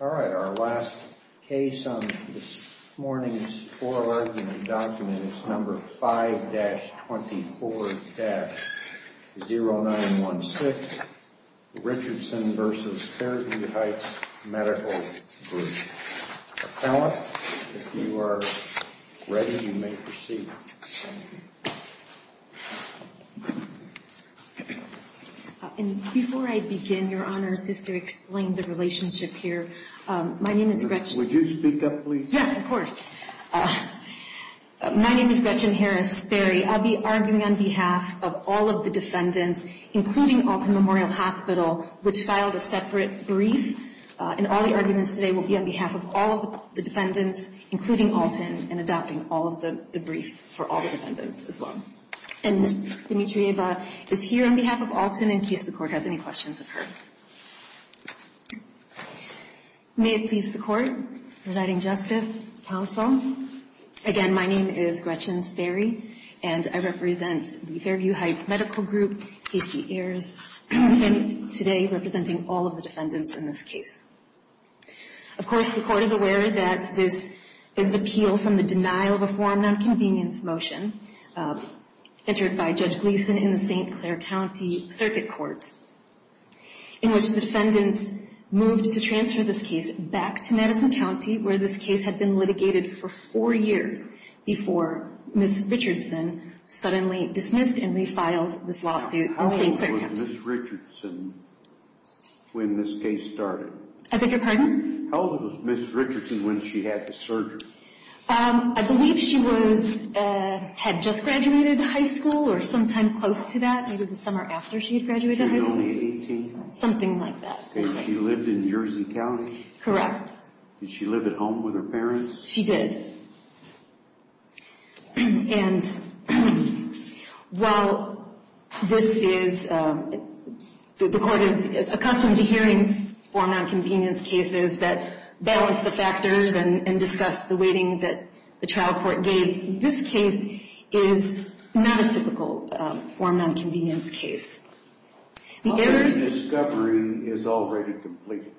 All right, our last case on this morning's oral argument document is number 5-24-0916, Richardson v. Fairview Heights Medical Group. Appellant, if you are ready, you may proceed. And before I begin, Your Honor, just to explain the relationship here, my name is Gretchen. Would you speak up, please? Yes, of course. My name is Gretchen Harris-Sperry. I'll be arguing on behalf of all of the defendants, including Alton Memorial Hospital, which filed a separate brief. And all the arguments today will be on behalf of all of the defendants, including Alton, and adopting all of the briefs for all the defendants as well. And Ms. Dimitrieva is here on behalf of Alton in case the Court has any questions of her. May it please the Court, Presiding Justice, Counsel, again, my name is Gretchen Sperry, and I represent the Fairview Heights Medical Group, Casey Ayers, and today representing all of the defendants in this case. Of course, the Court is aware that this is an appeal from the denial of a form of nonconvenience motion entered by Judge Gleason in the St. Clair County Circuit Court, in which the defendants moved to transfer this case back to Madison County, where this case had been litigated for four years before Ms. Richardson suddenly dismissed and refiled this lawsuit in St. Clair County. How old was Ms. Richardson when this case started? I beg your pardon? How old was Ms. Richardson when she had the surgery? I believe she had just graduated high school or sometime close to that, either the summer after she had graduated high school. She was only 18? Something like that. And she lived in Jersey County? Correct. Did she live at home with her parents? She did. And while this is, the Court is accustomed to hearing form of nonconvenience cases that balance the factors and discuss the weighting that the trial court gave, this case is not a typical form of nonconvenience case. What if the discovery is already completed?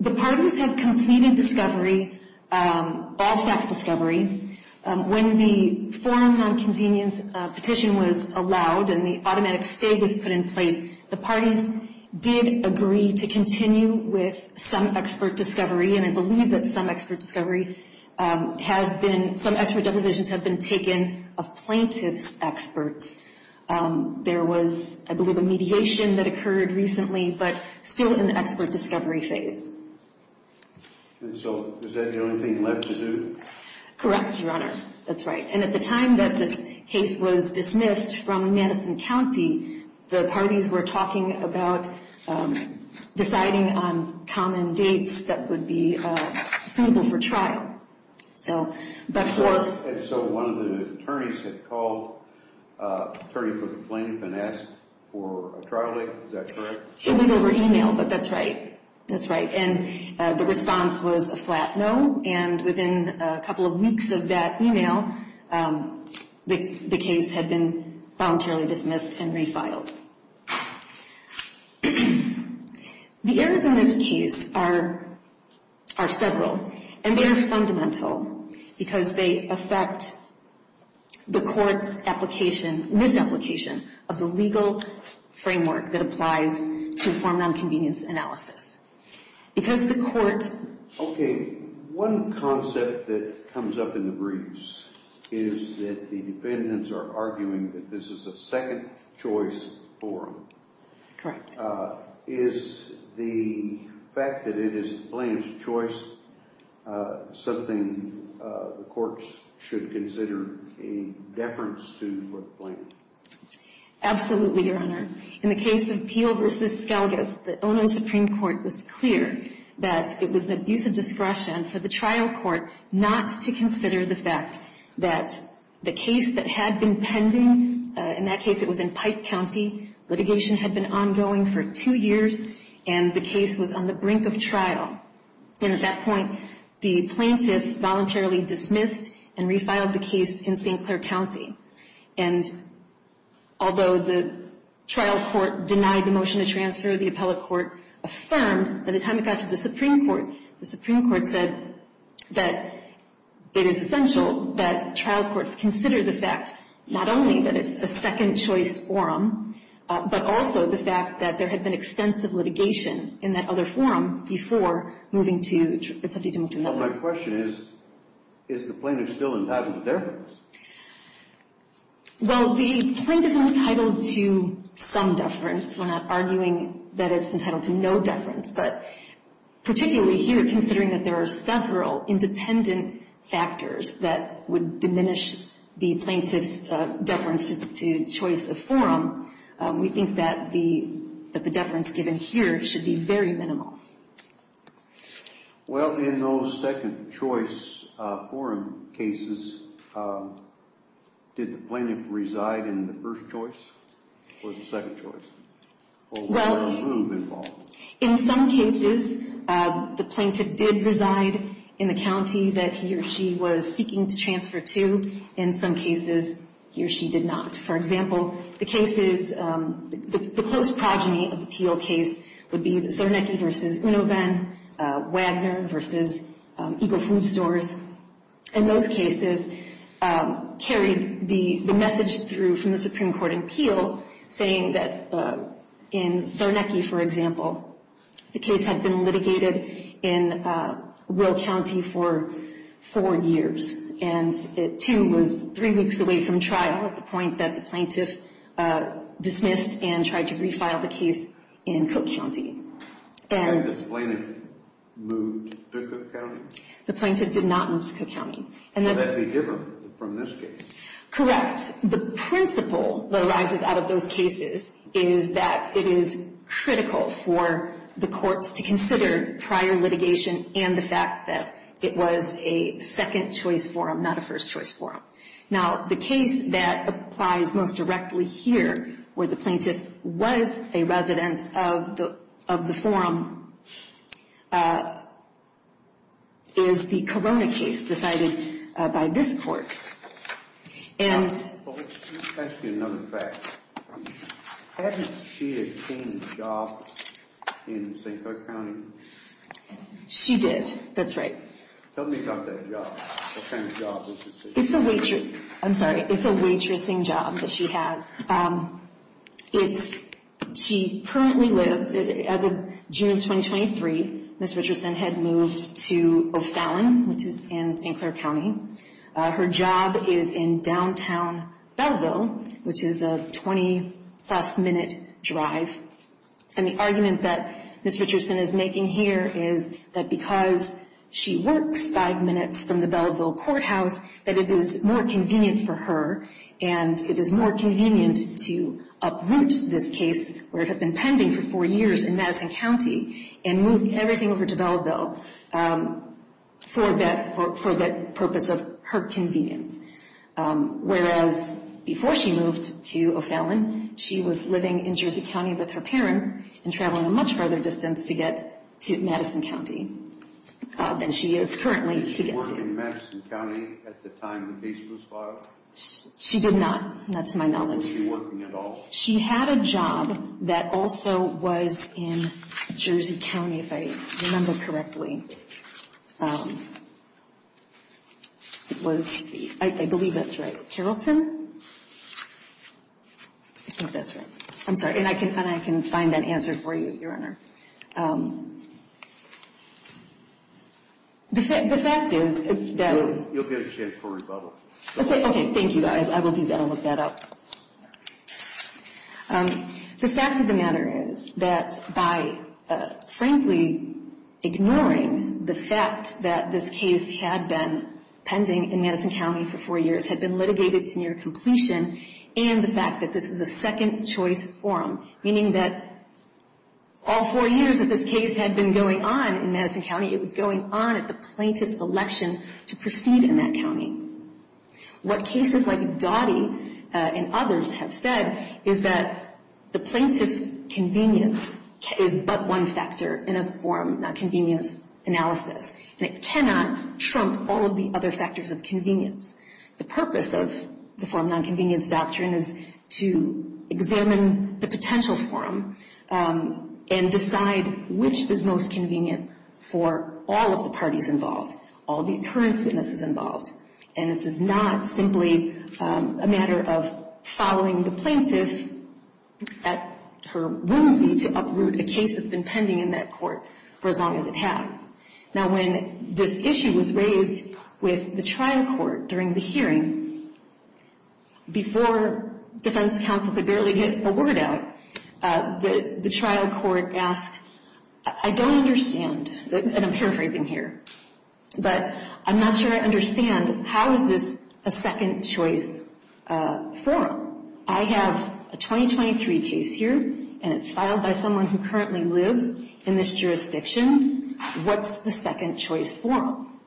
The parties have completed discovery, all fact discovery. When the form of nonconvenience petition was allowed and the automatic state was put in place, the parties did agree to continue with some expert discovery, and I believe that some expert discovery has been, some expert depositions have been taken of plaintiff's experts. There was, I believe, a mediation that occurred recently, but still in the expert discovery phase. And so is that the only thing left to do? Correct, Your Honor. That's right. And at the time that this case was dismissed from Madison County, the parties were talking about deciding on common dates that would be suitable for trial. So one of the attorneys had called the attorney for the plaintiff and asked for a trial date. Is that correct? It was over email, but that's right. That's right. And the response was a flat no, and within a couple of weeks of that email, the case had been voluntarily dismissed and refiled. The errors in this case are several, and they are fundamental because they affect the court's application, misapplication of the legal framework that applies to form nonconvenience analysis. Because the court... Okay. One concept that comes up in the briefs is that the defendants are arguing that this is a second choice forum. Is the fact that it is the plaintiff's choice something the courts should consider a deference to for the plaintiff? Absolutely, Your Honor. In the case of Peel v. Skelgis, the Illinois Supreme Court was clear that it was an abuse of discretion for the trial court not to consider the fact that the case that had been pending, in that case it was in Pike County, litigation had been ongoing for two years, and the case was on the brink of trial. And at that point, the plaintiff voluntarily dismissed and refiled the case in St. Clair County. And although the trial court denied the motion to transfer, the appellate court affirmed by the time it got to the Supreme Court. The Supreme Court said that it is essential that trial courts consider the fact not only that it's a second choice forum, but also the fact that there had been extensive litigation in that other forum before moving to... Well, my question is, is the plaintiff still entitled to deference? Well, the plaintiff's entitled to some deference. We're not arguing that it's entitled to no deference. But particularly here, considering that there are several independent factors that would diminish the plaintiff's deference to choice of forum, we think that the deference given here should be very minimal. Well, in those second choice forum cases, did the plaintiff reside in the first choice or the second choice? Well, in some cases, the plaintiff did reside in the county that he or she was seeking to transfer to. In some cases, he or she did not. For example, the cases, the close progeny of the Peel case would be the Czarnecki v. Unovan, Wagner v. Eagle Food Stores. And those cases carried the message through from the Supreme Court in Peel, saying that in Czarnecki, for example, the case had been litigated in Will County for four years. And it, too, was three weeks away from trial, at the point that the plaintiff dismissed and tried to refile the case in Cook County. And this plaintiff moved to Cook County? The plaintiff did not move to Cook County. So that would be different from this case? Correct. The principle that arises out of those cases is that it is critical for the courts to consider prior litigation and the fact that it was a second choice forum, not a first choice forum. Now, the case that applies most directly here, where the plaintiff was a resident of the forum, is the Corona case decided by this court. Let me ask you another fact. Hadn't she obtained a job in St. Cook County? She did. That's right. Tell me about that job. What kind of job was it? It's a waitress, I'm sorry, it's a waitressing job that she has. It's, she currently lives, as of June 2023, Ms. Richardson had moved to O'Fallon, which is in St. Clair County. Her job is in downtown Belleville, which is a 20-plus minute drive. And the argument that Ms. Richardson is making here is that because she works five minutes from the Belleville courthouse, that it is more convenient for her and it is more convenient to uproot this case, where it had been pending for four years in Madison County, and move everything over to Belleville for that purpose of her convenience. Whereas before she moved to O'Fallon, she was living in Jersey County with her parents and traveling a much farther distance to get to Madison County than she is currently to get to. Did she work in Madison County at the time the case was filed? She did not, that's my knowledge. Was she working at all? She had a job that also was in Jersey County, if I remember correctly. It was, I believe that's right, Carrollton? I think that's right. I'm sorry. And I can find that answer for you, Your Honor. The fact is that... You'll get a chance for rebuttal. Okay, thank you. I will do that. I'll look that up. The fact of the matter is that by, frankly, ignoring the fact that this case had been pending in Madison County for four years, had been litigated to near completion, and the fact that this was a second choice forum, meaning that all four years that this case had been going on in Madison County, it was going on at the plaintiff's election to proceed in that county. What cases like Dottie and others have said is that the plaintiff's convenience is but one factor in a forum nonconvenience analysis, and it cannot trump all of the other factors of convenience. The purpose of the forum nonconvenience doctrine is to examine the potential forum and decide which is most convenient for all of the parties involved, all the occurrence witnesses involved. And this is not simply a matter of following the plaintiff at her whimsy to uproot a case that's been pending in that court for as long as it has. Now, when this issue was raised with the trial court during the hearing, before defense counsel could barely get a word out, the trial court asked, I don't understand, and I'm paraphrasing here, but I'm not sure I understand, how is this a second choice forum? I have a 2023 case here, and it's filed by someone who currently lives in this jurisdiction. What's the second choice forum?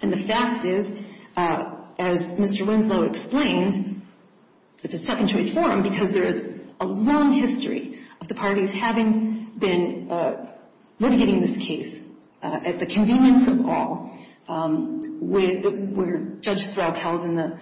And the fact is, as Mr. Winslow explained, it's a second choice forum because there is a long history of the parties having been litigating this case at the convenience of all, where Judge Thraub held in the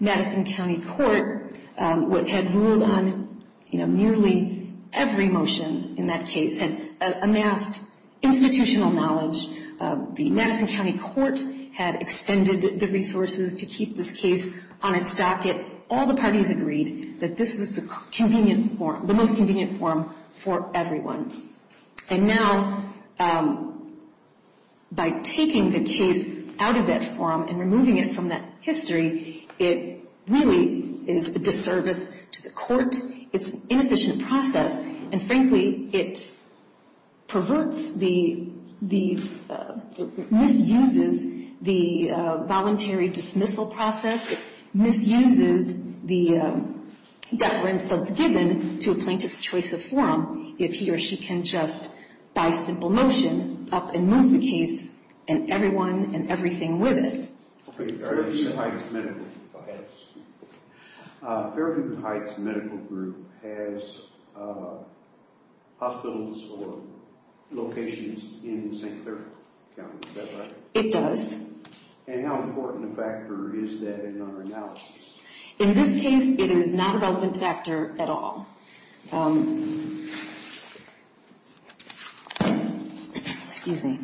Madison County Court what had ruled on nearly every motion in that case and amassed institutional knowledge. The Madison County Court had expended the resources to keep this case on its docket. All the parties agreed that this was the most convenient forum for everyone. And now, by taking the case out of that forum and removing it from that history, it really is a disservice to the court. It's an inefficient process, and frankly, it perverts the, misuses the voluntary dismissal process. It misuses the deference that's given to a plaintiff's choice of forum if he or she can just, by simple motion, up and move the case and everyone and everything with it. Fairview Heights Medical Group has hospitals or locations in St. Clair County, is that right? It does. And how important a factor is that in our analysis? In this case, it is not an open factor at all. Excuse me.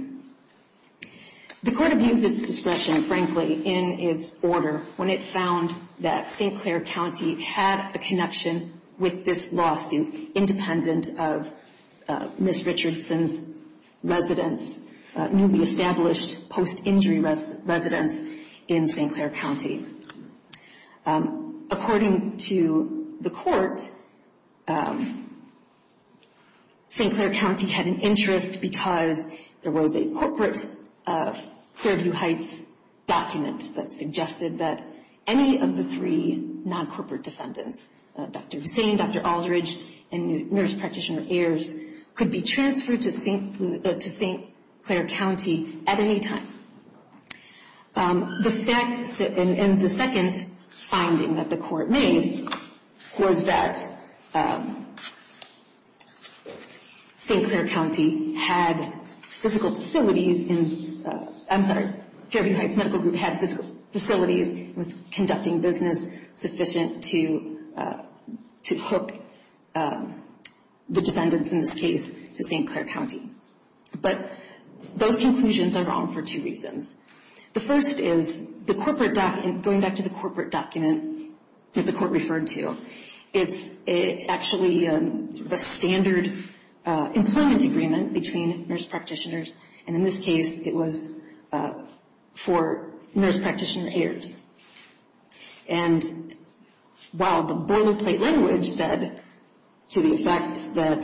The court abused its discretion, frankly, in its order when it found that St. Clair County had a connection with this lawsuit independent of Ms. Richardson's residence, newly established post-injury residence in St. Clair County. According to the court, St. Clair County had an interest because there was a corporate Fairview Heights document that suggested that any of the three non-corporate defendants, Dr. Hussain, Dr. Aldridge, and nurse practitioner Ayers, could be transferred to St. Clair County at any time. The second finding that the court made was that St. Clair County had physical facilities, I'm sorry, Fairview Heights Medical Group had physical facilities, was conducting business sufficient to hook the defendants in this case to St. Clair County. But those conclusions are wrong for two reasons. The first is the corporate document, going back to the corporate document that the court referred to, it's actually a standard employment agreement between nurse practitioners, and in this case it was for nurse practitioner Ayers. And while the boilerplate language said to the effect that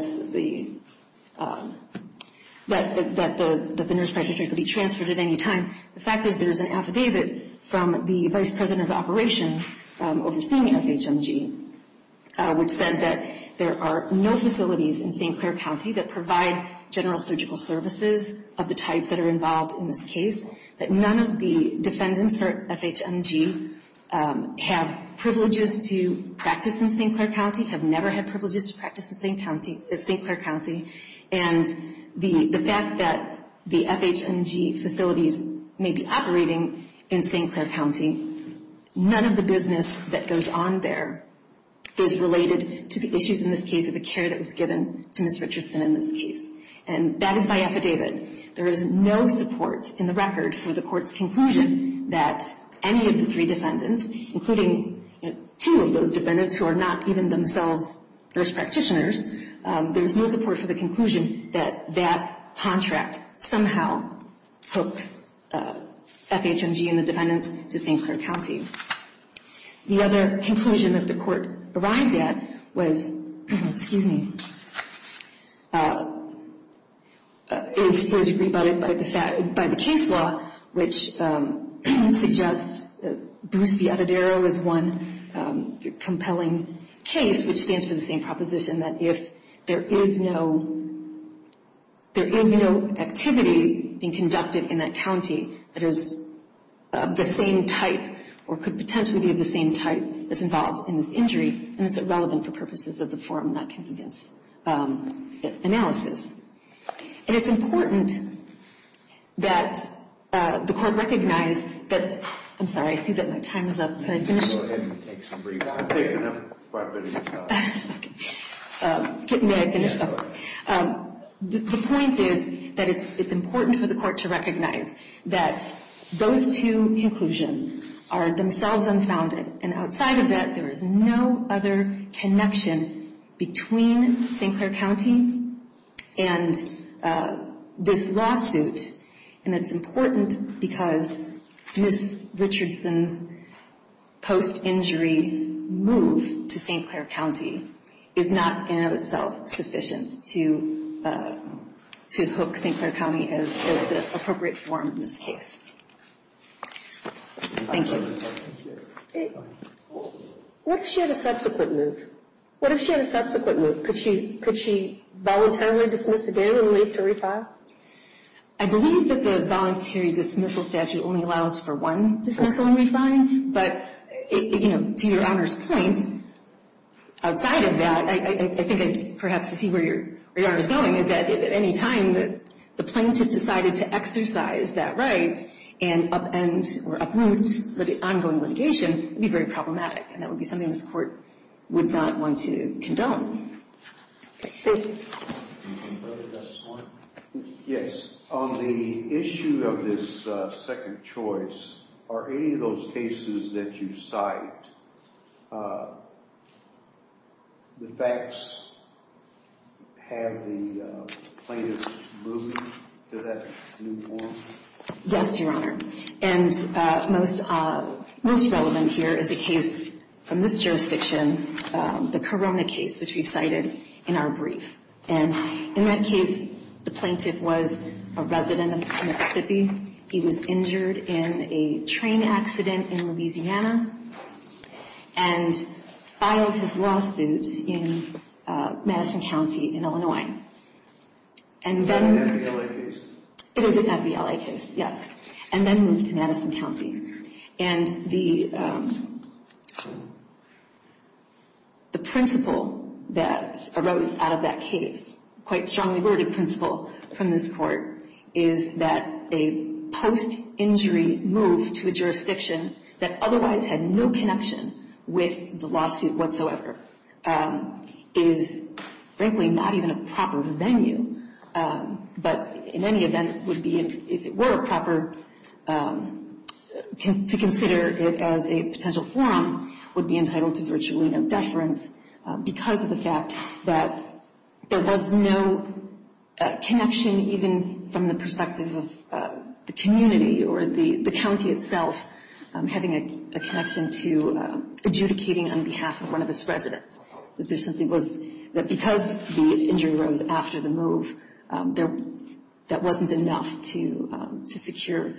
the nurse practitioner could be transferred at any time, the fact is there's an affidavit from the vice president of operations overseeing FHMG, which said that there are no facilities in St. Clair County that provide general surgical services of the type that are involved in this case, that none of the defendants for FHMG have privileges to practice in St. Clair County, have never had privileges to practice in St. Clair County, and the fact that the FHMG facilities may be operating in St. Clair County, none of the business that goes on there is related to the issues in this case or the care that was given to Ms. Richardson in this case. And that is by affidavit. There is no support in the record for the court's conclusion that any of the three defendants, including two of those defendants who are not even themselves nurse practitioners, there's no support for the conclusion that that contract somehow hooks FHMG and the defendants to St. Clair County. The other conclusion that the court arrived at was, excuse me, it was agreed by the case law, which suggests Bruce V. Adedaro is one compelling case, which stands for the same proposition that if there is no activity being conducted in that county that is of the same type or could potentially be of the same type as involved in this injury, then it's irrelevant for purposes of the forum not convenience analysis. And it's important that the court recognize that, I'm sorry, I see that my time is up. Can I finish? Go ahead and take some break. I've taken quite a bit of time. Okay. May I finish? Yes. The point is that it's important for the court to recognize that those two conclusions are themselves unfounded. And outside of that, there is no other connection between St. Clair County and this lawsuit. And it's important because Ms. Richardson's post-injury move to St. Clair County is not, in and of itself, sufficient to hook St. Clair County as the appropriate forum in this case. Thank you. What if she had a subsequent move? What if she had a subsequent move? Could she voluntarily dismiss again and wait to re-file? I believe that the voluntary dismissal statute only allows for one dismissal and re-filing. But, you know, to your Honor's point, outside of that, I think perhaps to see where your Honor is going, is that at any time the plaintiff decided to exercise that right and upend or uproot the ongoing litigation, it would be very problematic. And that would be something this Court would not want to condone. Okay. Thank you. Yes. On the issue of this second choice, are any of those cases that you cite, the facts have the plaintiff's moving to that new forum? Yes, your Honor. And most relevant here is a case from this jurisdiction, the Corona case, which we cited in our brief. And in that case, the plaintiff was a resident of Mississippi. He was injured in a train accident in Louisiana and filed his lawsuit in Madison County in Illinois. And then... Was that an FVLA case? It was an FVLA case, yes. And then moved to Madison County. And the principle that arose out of that case, quite strongly worded principle from this Court, is that a post-injury move to a jurisdiction that otherwise had no connection with the lawsuit whatsoever is, frankly, not even a proper venue. But in any event, would be, if it were proper to consider it as a potential forum, would be entitled to virtually no deference because of the fact that there was no connection, even from the perspective of the community or the county itself, having a connection to adjudicating on behalf of one of its residents. There simply was... Because the injury arose after the move, that wasn't enough to secure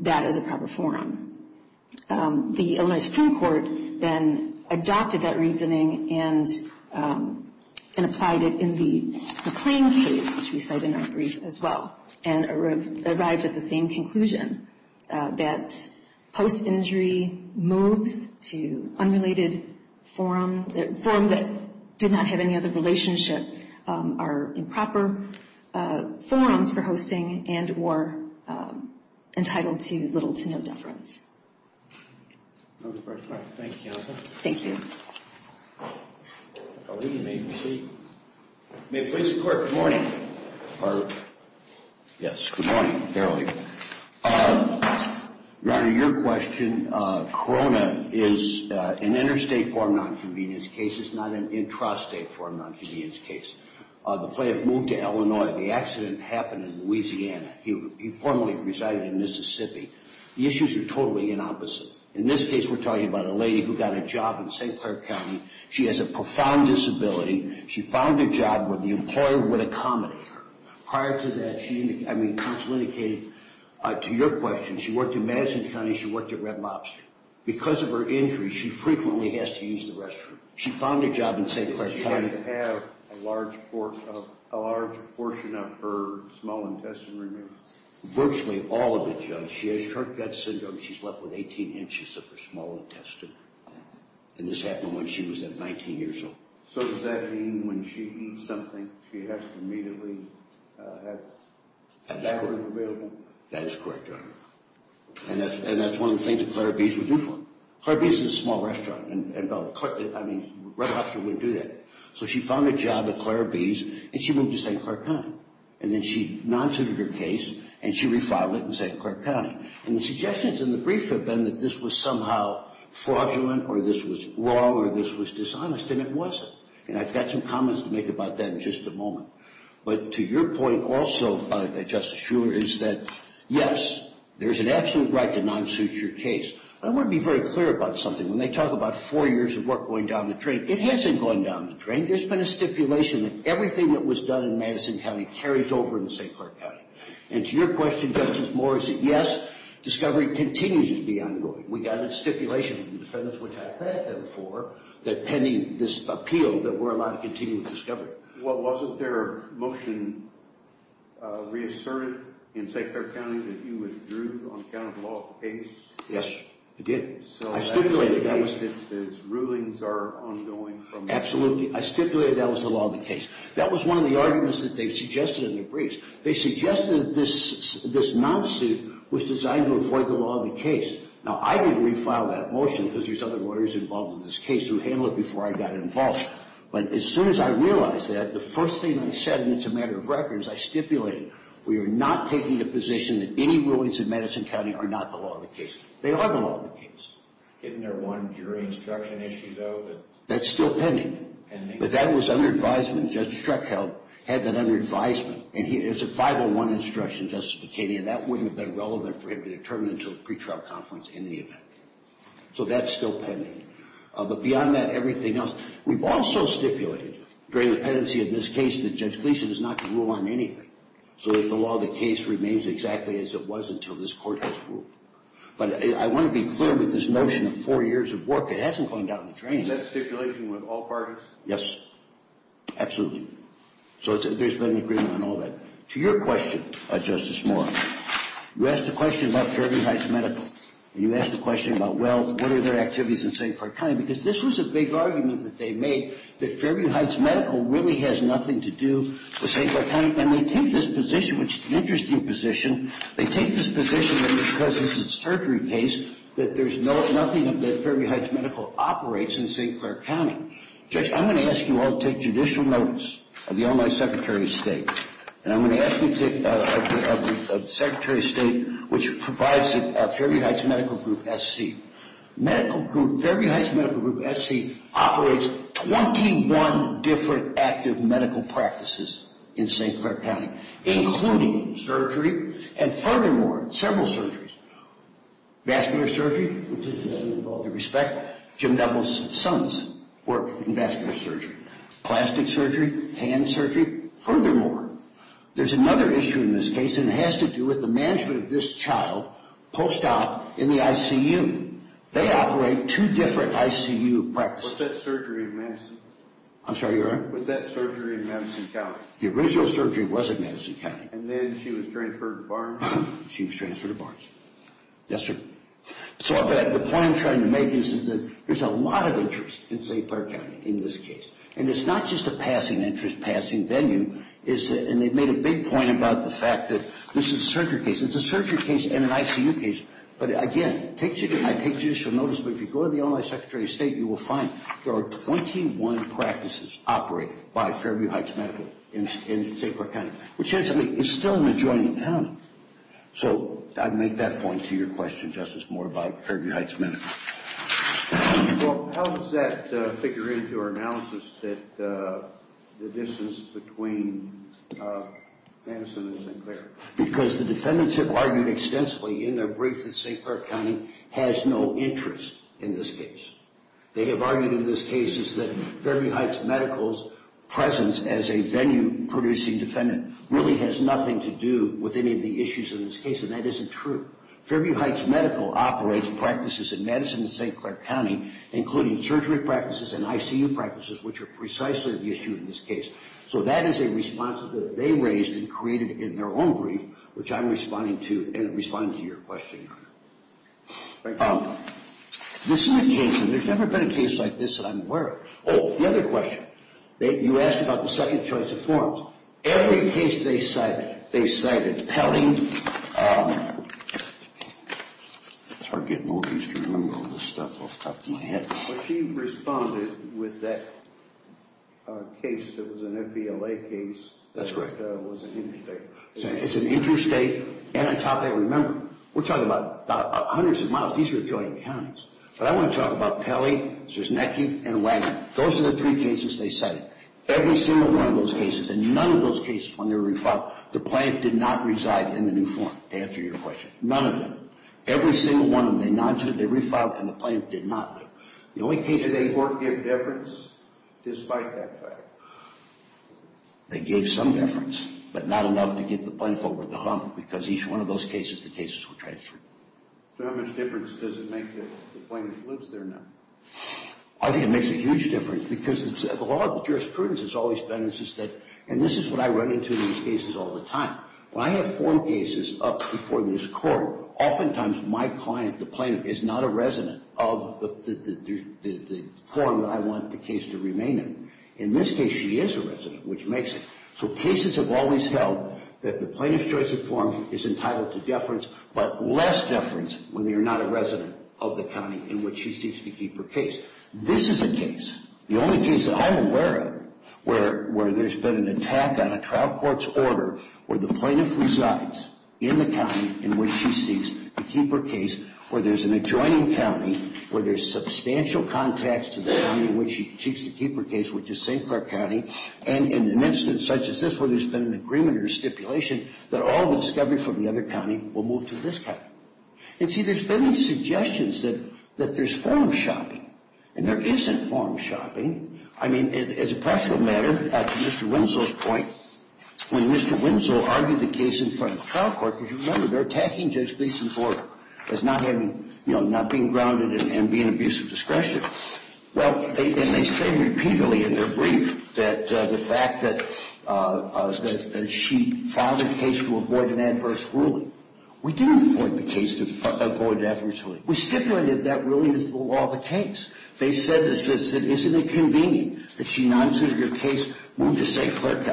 that as a proper forum. The Illinois Supreme Court then adopted that reasoning and applied it in the McLean case, which we cite in our brief as well, and arrived at the same conclusion that post-injury moves to unrelated forum, forum that did not have any other relationship, are improper forums for hosting and were entitled to little to no deference. Thank you, counsel. Thank you. May it please the Court, good morning. Good morning. Yes, good morning. Your Honor, your question, Corona is an interstate forum non-convenience case. It's not an intrastate forum non-convenience case. The plaintiff moved to Illinois. The accident happened in Louisiana. He formerly resided in Mississippi. The issues are totally the opposite. In this case, we're talking about a lady who got a job in St. Clair County. She has a profound disability. She found a job where the employer would accommodate her. Prior to that, she, I mean, counsel indicated to your question, she worked in Madison County. She worked at Red Lobster. Because of her injury, she frequently has to use the restroom. She found a job in St. Clair County. She had to have a large portion of her small intestine removed. Virtually all of it, Judge. She has short gut syndrome. She's left with 18 inches of her small intestine, and this happened when she was 19 years old. So does that mean when she eats something, she has to immediately have that food available? That is correct, Your Honor. And that's one of the things that Clair B's would do for her. Clair B's is a small restaurant, and Red Lobster wouldn't do that. So she found a job at Clair B's, and she moved to St. Clair County. And then she non-suited her case, and she refiled it in St. Clair County. And the suggestions in the brief have been that this was somehow fraudulent or this was wrong or this was dishonest, and it wasn't. And I've got some comments to make about that in just a moment. But to your point also, Justice Shuler, is that, yes, there's an absolute right to non-suit your case. I want to be very clear about something. When they talk about four years of work going down the drain, it hasn't gone down the drain. There's been a stipulation that everything that was done in Madison County carries over in St. Clair County. And to your question, Justice Moore, is that, yes, discovery continues to be ongoing. We got a stipulation from the defendants, which I've had them for, that pending this appeal, that we're allowed to continue with discovery. Well, wasn't their motion reasserted in St. Clair County that you withdrew on account of the law of the case? Yes, I did. I stipulated that. So that means that the rulings are ongoing from that point? Absolutely. I stipulated that was the law of the case. That was one of the arguments that they suggested in their briefs. They suggested this non-suit was designed to avoid the law of the case. Now, I didn't refile that motion because there's other lawyers involved in this case who handled it before I got involved. But as soon as I realized that, the first thing I said, and it's a matter of record, is I stipulated, we are not taking the position that any rulings in Madison County are not the law of the case. They are the law of the case. Isn't there one jury instruction issue, though? That's still pending. But that was under advisement. Judge Schreckheld had that under advisement. And it's a 501 instruction, Justice Bikani, and that wouldn't have been relevant for him to determine until the pretrial conference in the event. So that's still pending. But beyond that, everything else. We've also stipulated during the pendency of this case that Judge Gleeson is not to rule on anything so that the law of the case remains exactly as it was until this Court has ruled. But I want to be clear with this notion of four years of work. It hasn't gone down the drain. Is that stipulation with all parties? Yes. Absolutely. So there's been an agreement on all that. To your question, Justice Moore, you asked a question about Fairview Heights Medical. And you asked a question about, well, what are their activities in St. Clair County? Because this was a big argument that they made, that Fairview Heights Medical really has nothing to do with St. Clair County. And they take this position, which is an interesting position, they take this position that because this is a surgery case that there's nothing that Fairview Heights Medical operates in St. Clair County. Judge, I'm going to ask you all to take judicial notice of the only Secretary of State. And I'm going to ask you of the Secretary of State, which provides Fairview Heights Medical Group SC. Medical Group, Fairview Heights Medical Group SC, operates 21 different active medical practices in St. Clair County, including surgery, and furthermore, several surgeries. Vascular surgery, which is another with all due respect. Jim Neville's sons work in vascular surgery. Plastic surgery, hand surgery. Furthermore, there's another issue in this case, and it has to do with the management of this child post-op in the ICU. They operate two different ICU practices. Was that surgery in Madison? I'm sorry, your Honor? Was that surgery in Madison County? The original surgery was in Madison County. And then she was transferred to Barnes? She was transferred to Barnes. Yes, sir. So the point I'm trying to make is that there's a lot of interest in St. Clair County in this case. And it's not just a passing interest, passing venue. And they've made a big point about the fact that this is a surgery case. It's a surgery case and an ICU case. But, again, I take judicial notice, but if you go to the online Secretary of State, you will find there are 21 practices operated by Fairview Heights Medical in St. Clair County, which is still an adjoining town. So I make that point to your question, Justice, more about Fairview Heights Medical. Well, how does that figure into our analysis that the distance between Madison and St. Clair? Because the defendants have argued extensively in their brief that St. Clair County has no interest in this case. They have argued in this case that Fairview Heights Medical's presence as a venue-producing defendant really has nothing to do with any of the issues in this case, and that isn't true. Fairview Heights Medical operates practices in Madison and St. Clair County, including surgery practices and ICU practices, which are precisely the issue in this case. So that is a response that they raised and created in their own brief, which I'm responding to and responding to your question on. This is a case, and there's never been a case like this that I'm aware of. Oh, the other question. You asked about the second choice of forms. Every case they cited, they cited Pelley. It's hard getting all these to remember all this stuff off the top of my head. But she responded with that case that was an FVLA case. That's right. That was an interstate. It's an interstate, and I thought they remembered. We're talking about hundreds of miles. These are adjoining counties. But I want to talk about Pelley, Zrznecki, and Wagner. Those are the three cases they cited. Every single one of those cases, and none of those cases when they were re-filed, the plaintiff did not reside in the new form, to answer your question. None of them. Every single one when they non-sued, they re-filed, and the plaintiff did not live. Did the court give deference despite that fact? They gave some deference, but not enough to get the plaintiff over the hump, because each one of those cases, the cases were transferred. So how much difference does it make that the plaintiff lives there now? I think it makes a huge difference, because the law of the jurisprudence has always been, and this is what I run into in these cases all the time. When I have form cases up before this court, oftentimes my client, the plaintiff, is not a resident of the form that I want the case to remain in. In this case, she is a resident, which makes it. So cases have always held that the plaintiff's choice of form is entitled to deference, but less deference whether you're not a resident of the county in which she seeks to keep her case. This is a case, the only case that I'm aware of, where there's been an attack on a trial court's order where the plaintiff resides in the county in which she seeks to keep her case, where there's an adjoining county, where there's substantial contacts to the county in which she seeks to keep her case, which is St. Clair County, and in an incident such as this where there's been an agreement or stipulation that all the discovery from the other county will move to this county. And see, there's been suggestions that there's form shopping, and there isn't form shopping. I mean, as a practical matter, to Mr. Winslow's point, when Mr. Winslow argued the case in front of the trial court, because you remember, they're attacking Judge Gleeson's order as not having, you know, not being grounded and being an abuse of discretion. Well, and they say repeatedly in their brief that the fact that she filed a case to avoid an adverse ruling. We didn't avoid the case to avoid an adverse ruling. We stipulated that ruling is the law of the case. They said, isn't it convenient that she non-suited her case, moved to St. Clair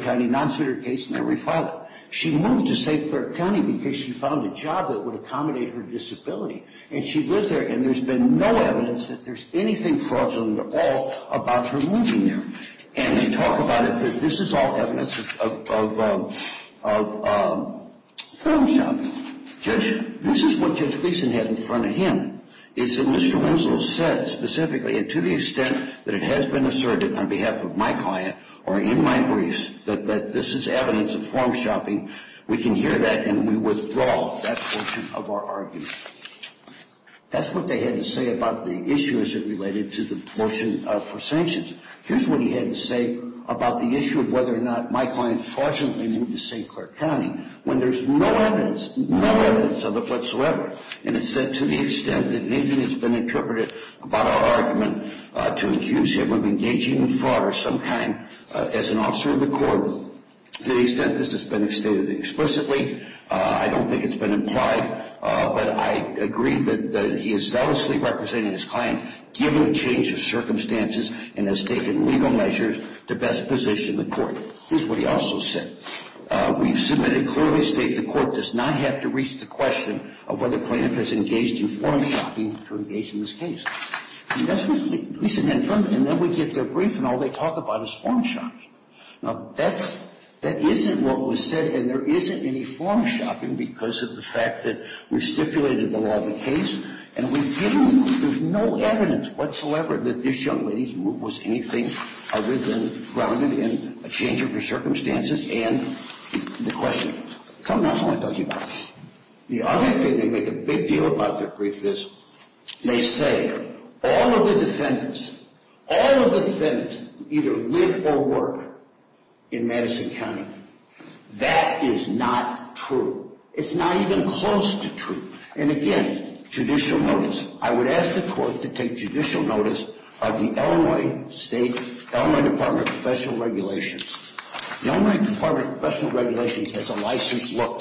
County, non-suited her case, and then refiled it. She moved to St. Clair County because she found a job that would accommodate her disability, and she lived there, and there's been no evidence that there's anything fraudulent at all about her moving there. And they talk about it. This is all evidence of form shopping. Judge, this is what Judge Gleeson had in front of him. He said Mr. Winslow said specifically, and to the extent that it has been asserted on behalf of my client or in my brief that this is evidence of form shopping, we can hear that and we withdraw that portion of our argument. That's what they had to say about the issue as it related to the motion for sanctions. Here's what he had to say about the issue of whether or not my client fortunately moved to St. Clair County when there's no evidence, no evidence of it whatsoever. And it said to the extent that it has been interpreted about our argument to accuse him of engaging in fraud or some kind as an officer of the court. To the extent this has been stated explicitly, I don't think it's been implied, but I agree that he is zealously representing his client given the change of circumstances and has taken legal measures to best position the court. Here's what he also said. We've submitted clearly state the court does not have to reach the question of whether plaintiff has engaged in form shopping to engage in this case. And that's what the police had done. And then we get their brief and all they talk about is form shopping. Now, that's, that isn't what was said and there isn't any form shopping because of the fact that we've stipulated the law of the case and we didn't, there's no evidence whatsoever that this young lady's move was anything other than grounded in a change of her circumstances and the question. Something else I want to tell you about. The other thing they make a big deal about their brief is they say all of the defendants, all of the defendants either live or work in Madison County. That is not true. It's not even close to true. And again, judicial notice. I would ask the court to take judicial notice of the Illinois State, Illinois Department of Professional Regulations. The Illinois Department of Professional Regulations has a licensed lawyer.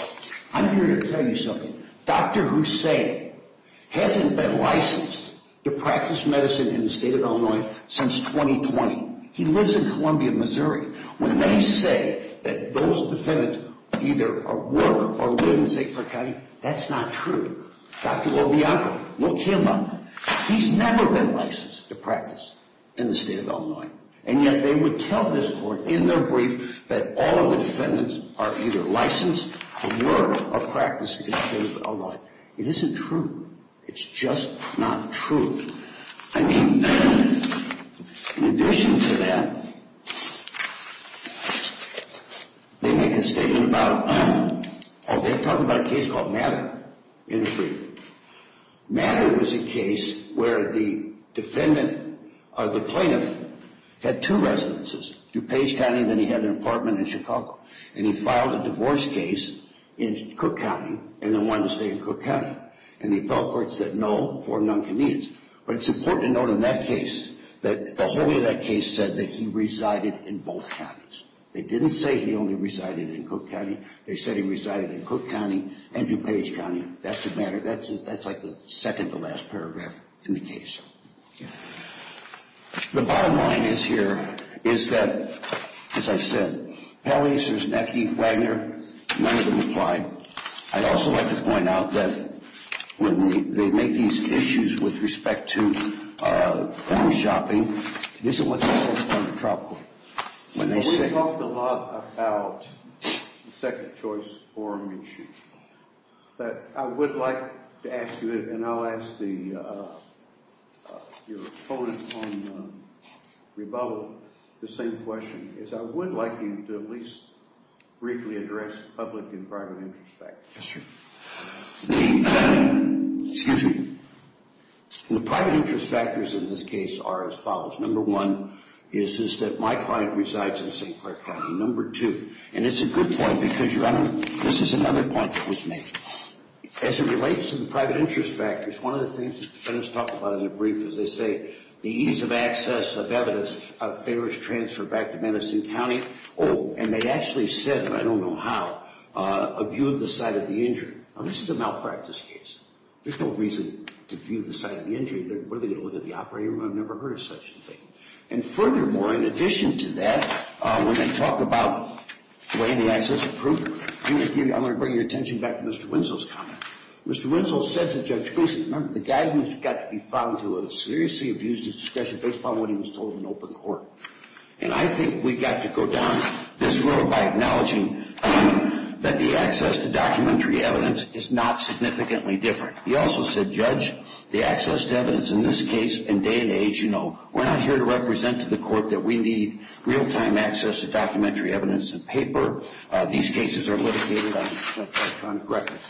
I'm here to tell you something. Dr. Hussain hasn't been licensed to practice medicine in the state of Illinois since 2020. He lives in Columbia, Missouri. When they say that those defendants either work or live in St. Croix County, that's not true. Dr. LoBianco, look him up. He's never been licensed to practice in the state of Illinois. And yet they would tell this court in their brief that all of the defendants are either licensed or work or practice in the state of Illinois. It isn't true. It's just not true. I mean, in addition to that, they make a statement about, oh, they're talking about a case called Matter in the brief. Matter was a case where the defendant or the plaintiff had two residences, DuPage County, and then he had an apartment in Chicago. And he filed a divorce case in Cook County and then wanted to stay in Cook County. And the appellate court said no for noncommittance. But it's important to note in that case that the whole way of that case said that he resided in both counties. They didn't say he only resided in Cook County. They said he resided in Cook County and DuPage County. That's the matter. That's like the second-to-last paragraph in the case. The bottom line is here is that, as I said, Pelley's, there's McKee, Wagner, none of them applied. I'd also like to point out that when they make these issues with respect to food shopping, this is what they tell us from the trial court. We talked a lot about the second choice forum issue. But I would like to ask you, and I'll ask your opponent on rebuttal the same question, is I would like you to at least briefly address public and private interest factors. Yes, sir. The private interest factors in this case are as follows. Number one is that my client resides in St. Clair County. Number two, and it's a good point because this is another point that was made. As it relates to the private interest factors, one of the things the defendants talk about in the brief is they say, the ease of access of evidence of favors transferred back to Madison County. Oh, and they actually said, and I don't know how, a view of the site of the injury. Now, this is a malpractice case. There's no reason to view the site of the injury. What are they going to look at the operating room? I've never heard of such a thing. And furthermore, in addition to that, when they talk about weighing the access of proof, I'm going to bring your attention back to Mr. Winslow's comment. Mr. Winslow said to Judge Boese, remember, the guy who got to be found to have seriously abused his discretion based upon what he was told in open court. And I think we've got to go down this road by acknowledging that the access to documentary evidence is not significantly different. He also said, Judge, the access to evidence in this case and day and age, you know, we're not here to represent to the court that we need real-time access to documentary evidence and paper. These cases are litigated on electronic records.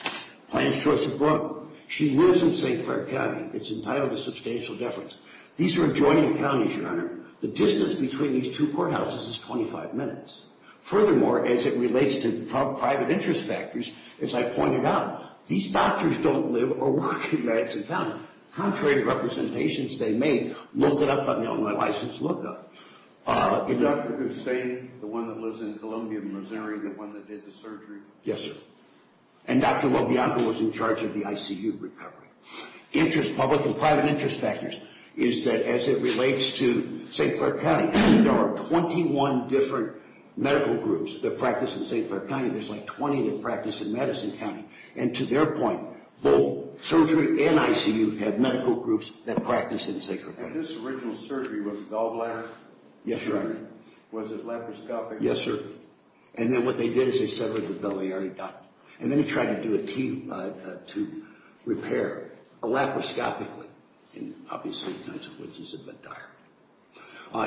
Plaintiff's choice of brook. She lives in St. Clair County. It's entitled to substantial deference. These are adjoining counties, Your Honor. The distance between these two courthouses is 25 minutes. Furthermore, as it relates to private interest factors, as I pointed out, these doctors don't live or work in Madison County. Contrary to representations they made, look it up on the online license lookup. Dr. Gustain, the one that lives in Columbia, Missouri, the one that did the surgery. Yes, sir. And Dr. Lobianco was in charge of the ICU recovery. Interest, public and private interest factors, is that as it relates to St. Clair County, there are 21 different medical groups that practice in St. Clair County. There's like 20 that practice in Madison County. And to their point, both surgery and ICU have medical groups that practice in St. Clair County. And this original surgery was gallbladder surgery? Yes, Your Honor. Was it laparoscopic? Yes, sir. And then what they did is they severed the belly. They already done it. And then they tried to do a T to repair laparoscopically. And obviously, it's a bit dire.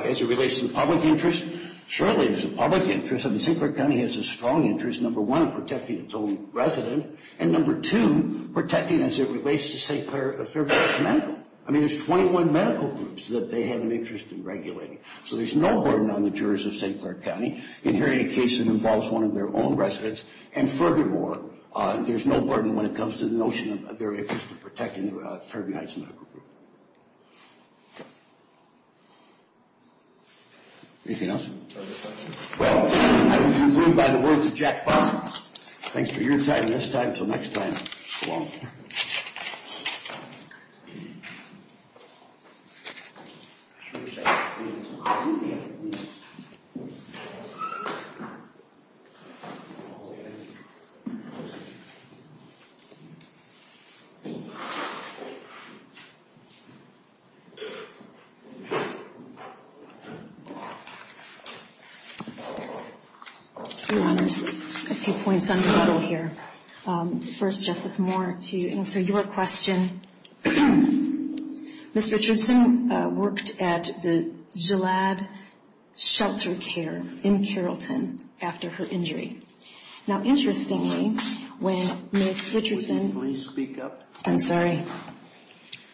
As it relates to the public interest, surely there's a public interest. I mean, St. Clair County has a strong interest, number one, in protecting its own resident, and number two, protecting as it relates to St. Clair, Thurber Heights Medical. I mean, there's 21 medical groups that they have an interest in regulating. So there's no burden on the jurors of St. Clair County in hearing a case that involves one of their own residents. And furthermore, there's no burden when it comes to the notion of their interest in protecting Thurber Heights Medical Group. Anything else? Well, I conclude by the words of Jack Bond. Thanks for your time this time. Until next time, so long. Your Honors, a few points on cuddle here. First, Justice Moore, to answer your question. Ms. Richardson worked at the Gillade Shelter Care in Carrollton after her injury. Now, interestingly, when Ms. Richardson – Would you please speak up? I'm sorry.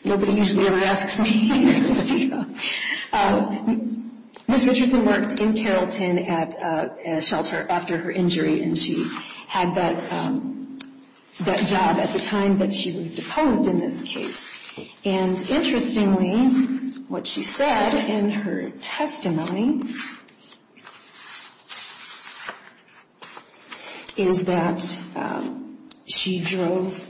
Nobody usually ever asks me. Ms. Richardson worked in Carrollton at a shelter after her injury, and she had that job at the time that she was deposed in this case. And interestingly, what she said in her testimony is that she drove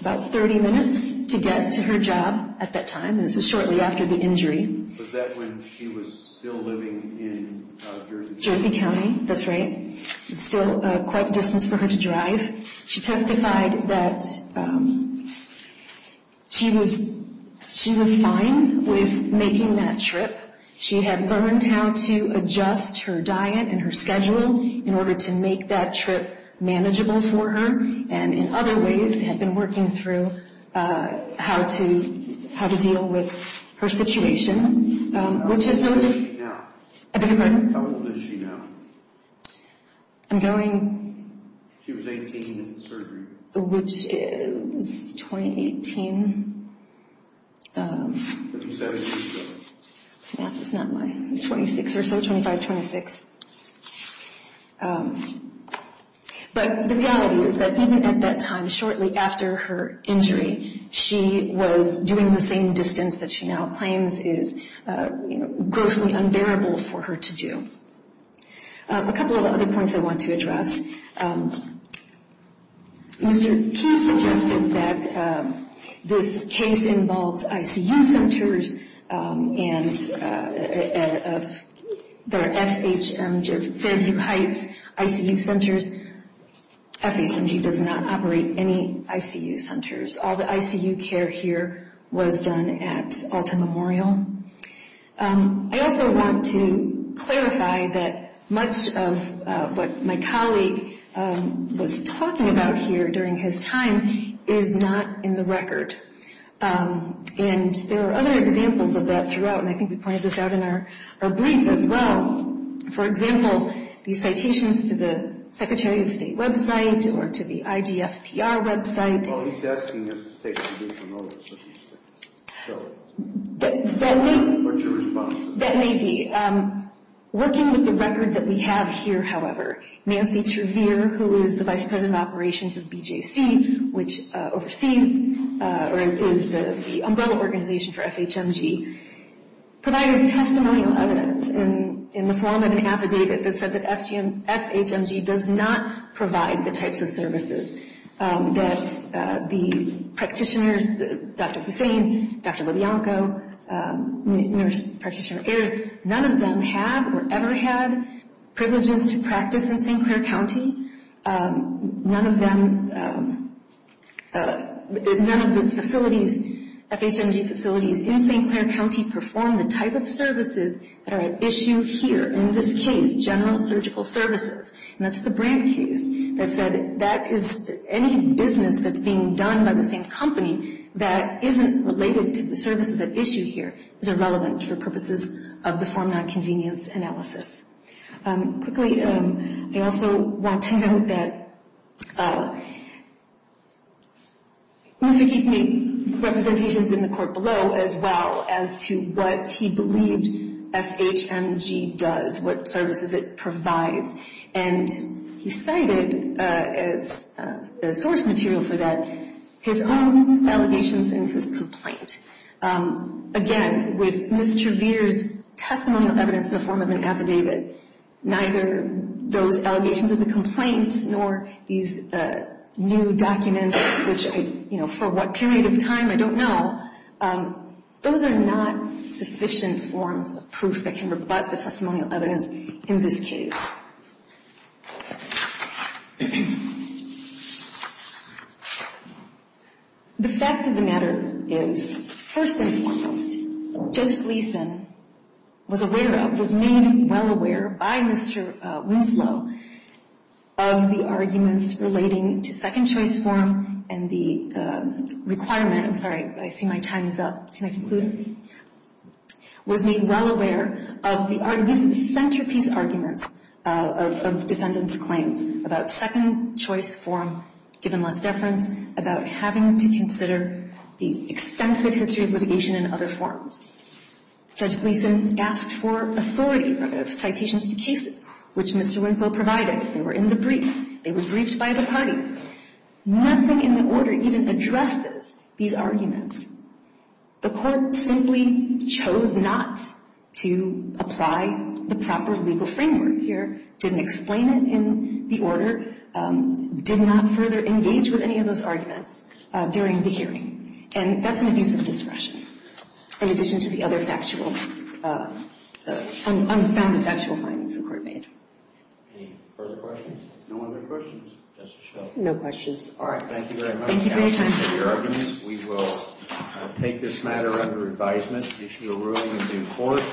about 30 minutes to get to her job at that time. And this was shortly after the injury. Was that when she was still living in Jersey County? Jersey County, that's right. It's still quite a distance for her to drive. She testified that she was fine with making that trip. She had learned how to adjust her diet and her schedule in order to make that trip manageable for her and in other ways had been working through how to deal with her situation. How old is she now? I beg your pardon? How old is she now? I'm going – She was 18 in surgery. Which is 2018. But you said it was – Yeah, that's not my – 26 or so, 25, 26. But the reality is that even at that time, shortly after her injury, she was doing the same distance that she now claims is grossly unbearable for her to do. A couple of other points I want to address. Mr. Keith suggested that this case involves ICU centers and there are FHMG, Fairview Heights ICU centers. FHMG does not operate any ICU centers. All the ICU care here was done at Alta Memorial. I also want to clarify that much of what my colleague was talking about here during his time is not in the record. And there are other examples of that throughout, and I think we pointed this out in our brief as well. For example, these citations to the Secretary of State website or to the IDFPR website. Well, he's asking us to take judicial notice of these things. But that may – What's your response to that? That may be. Working with the record that we have here, however, Nancy Trevere, who is the Vice President of Operations of BJC, which oversees or is the umbrella organization for FHMG, provided testimonial evidence in the form of an affidavit that said that FHMG does not provide the types of services that the practitioners, Dr. Hussain, Dr. LoBianco, nurse practitioner, none of them have or ever had privileges to practice in St. Clair County. None of them – none of the facilities, FHMG facilities in St. Clair County, perform the type of services that are at issue here, in this case, general surgical services. And that's the Brandt case that said that is – any business that's being done by the same company that isn't related to the services at issue here is irrelevant for purposes of the form nonconvenience analysis. Quickly, I also want to note that Mr. Kief made representations in the court below as well as to what he believed FHMG does, what services it provides. And he cited as source material for that his own allegations in his complaint. Again, with Ms. Trevere's testimonial evidence in the form of an affidavit, neither those allegations of the complaint nor these new documents, which I – you know, for what period of time, I don't know, those are not sufficient forms of proof that can rebut the testimonial evidence in this case. The fact of the matter is, first and foremost, Judge Gleeson was aware of, was made well aware by Mr. Winslow of the arguments relating to second-choice form and the requirement – I'm sorry, I see my time is up. Can I conclude? Was made well aware of the centerpiece arguments of defendants' claims about second-choice form, given less deference, about having to consider the extensive history of litigation and other forms. Judge Gleeson asked for authority of citations to cases, which Mr. Winslow provided. They were in the briefs. They were briefed by the parties. Nothing in the order even addresses these arguments. The court simply chose not to apply the proper legal framework here, didn't explain it in the order, did not further engage with any of those arguments during the hearing, and that's an abuse of discretion. In addition to the other factual, unfounded factual findings the court made. Any further questions? No other questions. That's a show. No questions. All right, thank you very much. Thank you for your time. We will take this matter under advisement, issue a ruling in due court.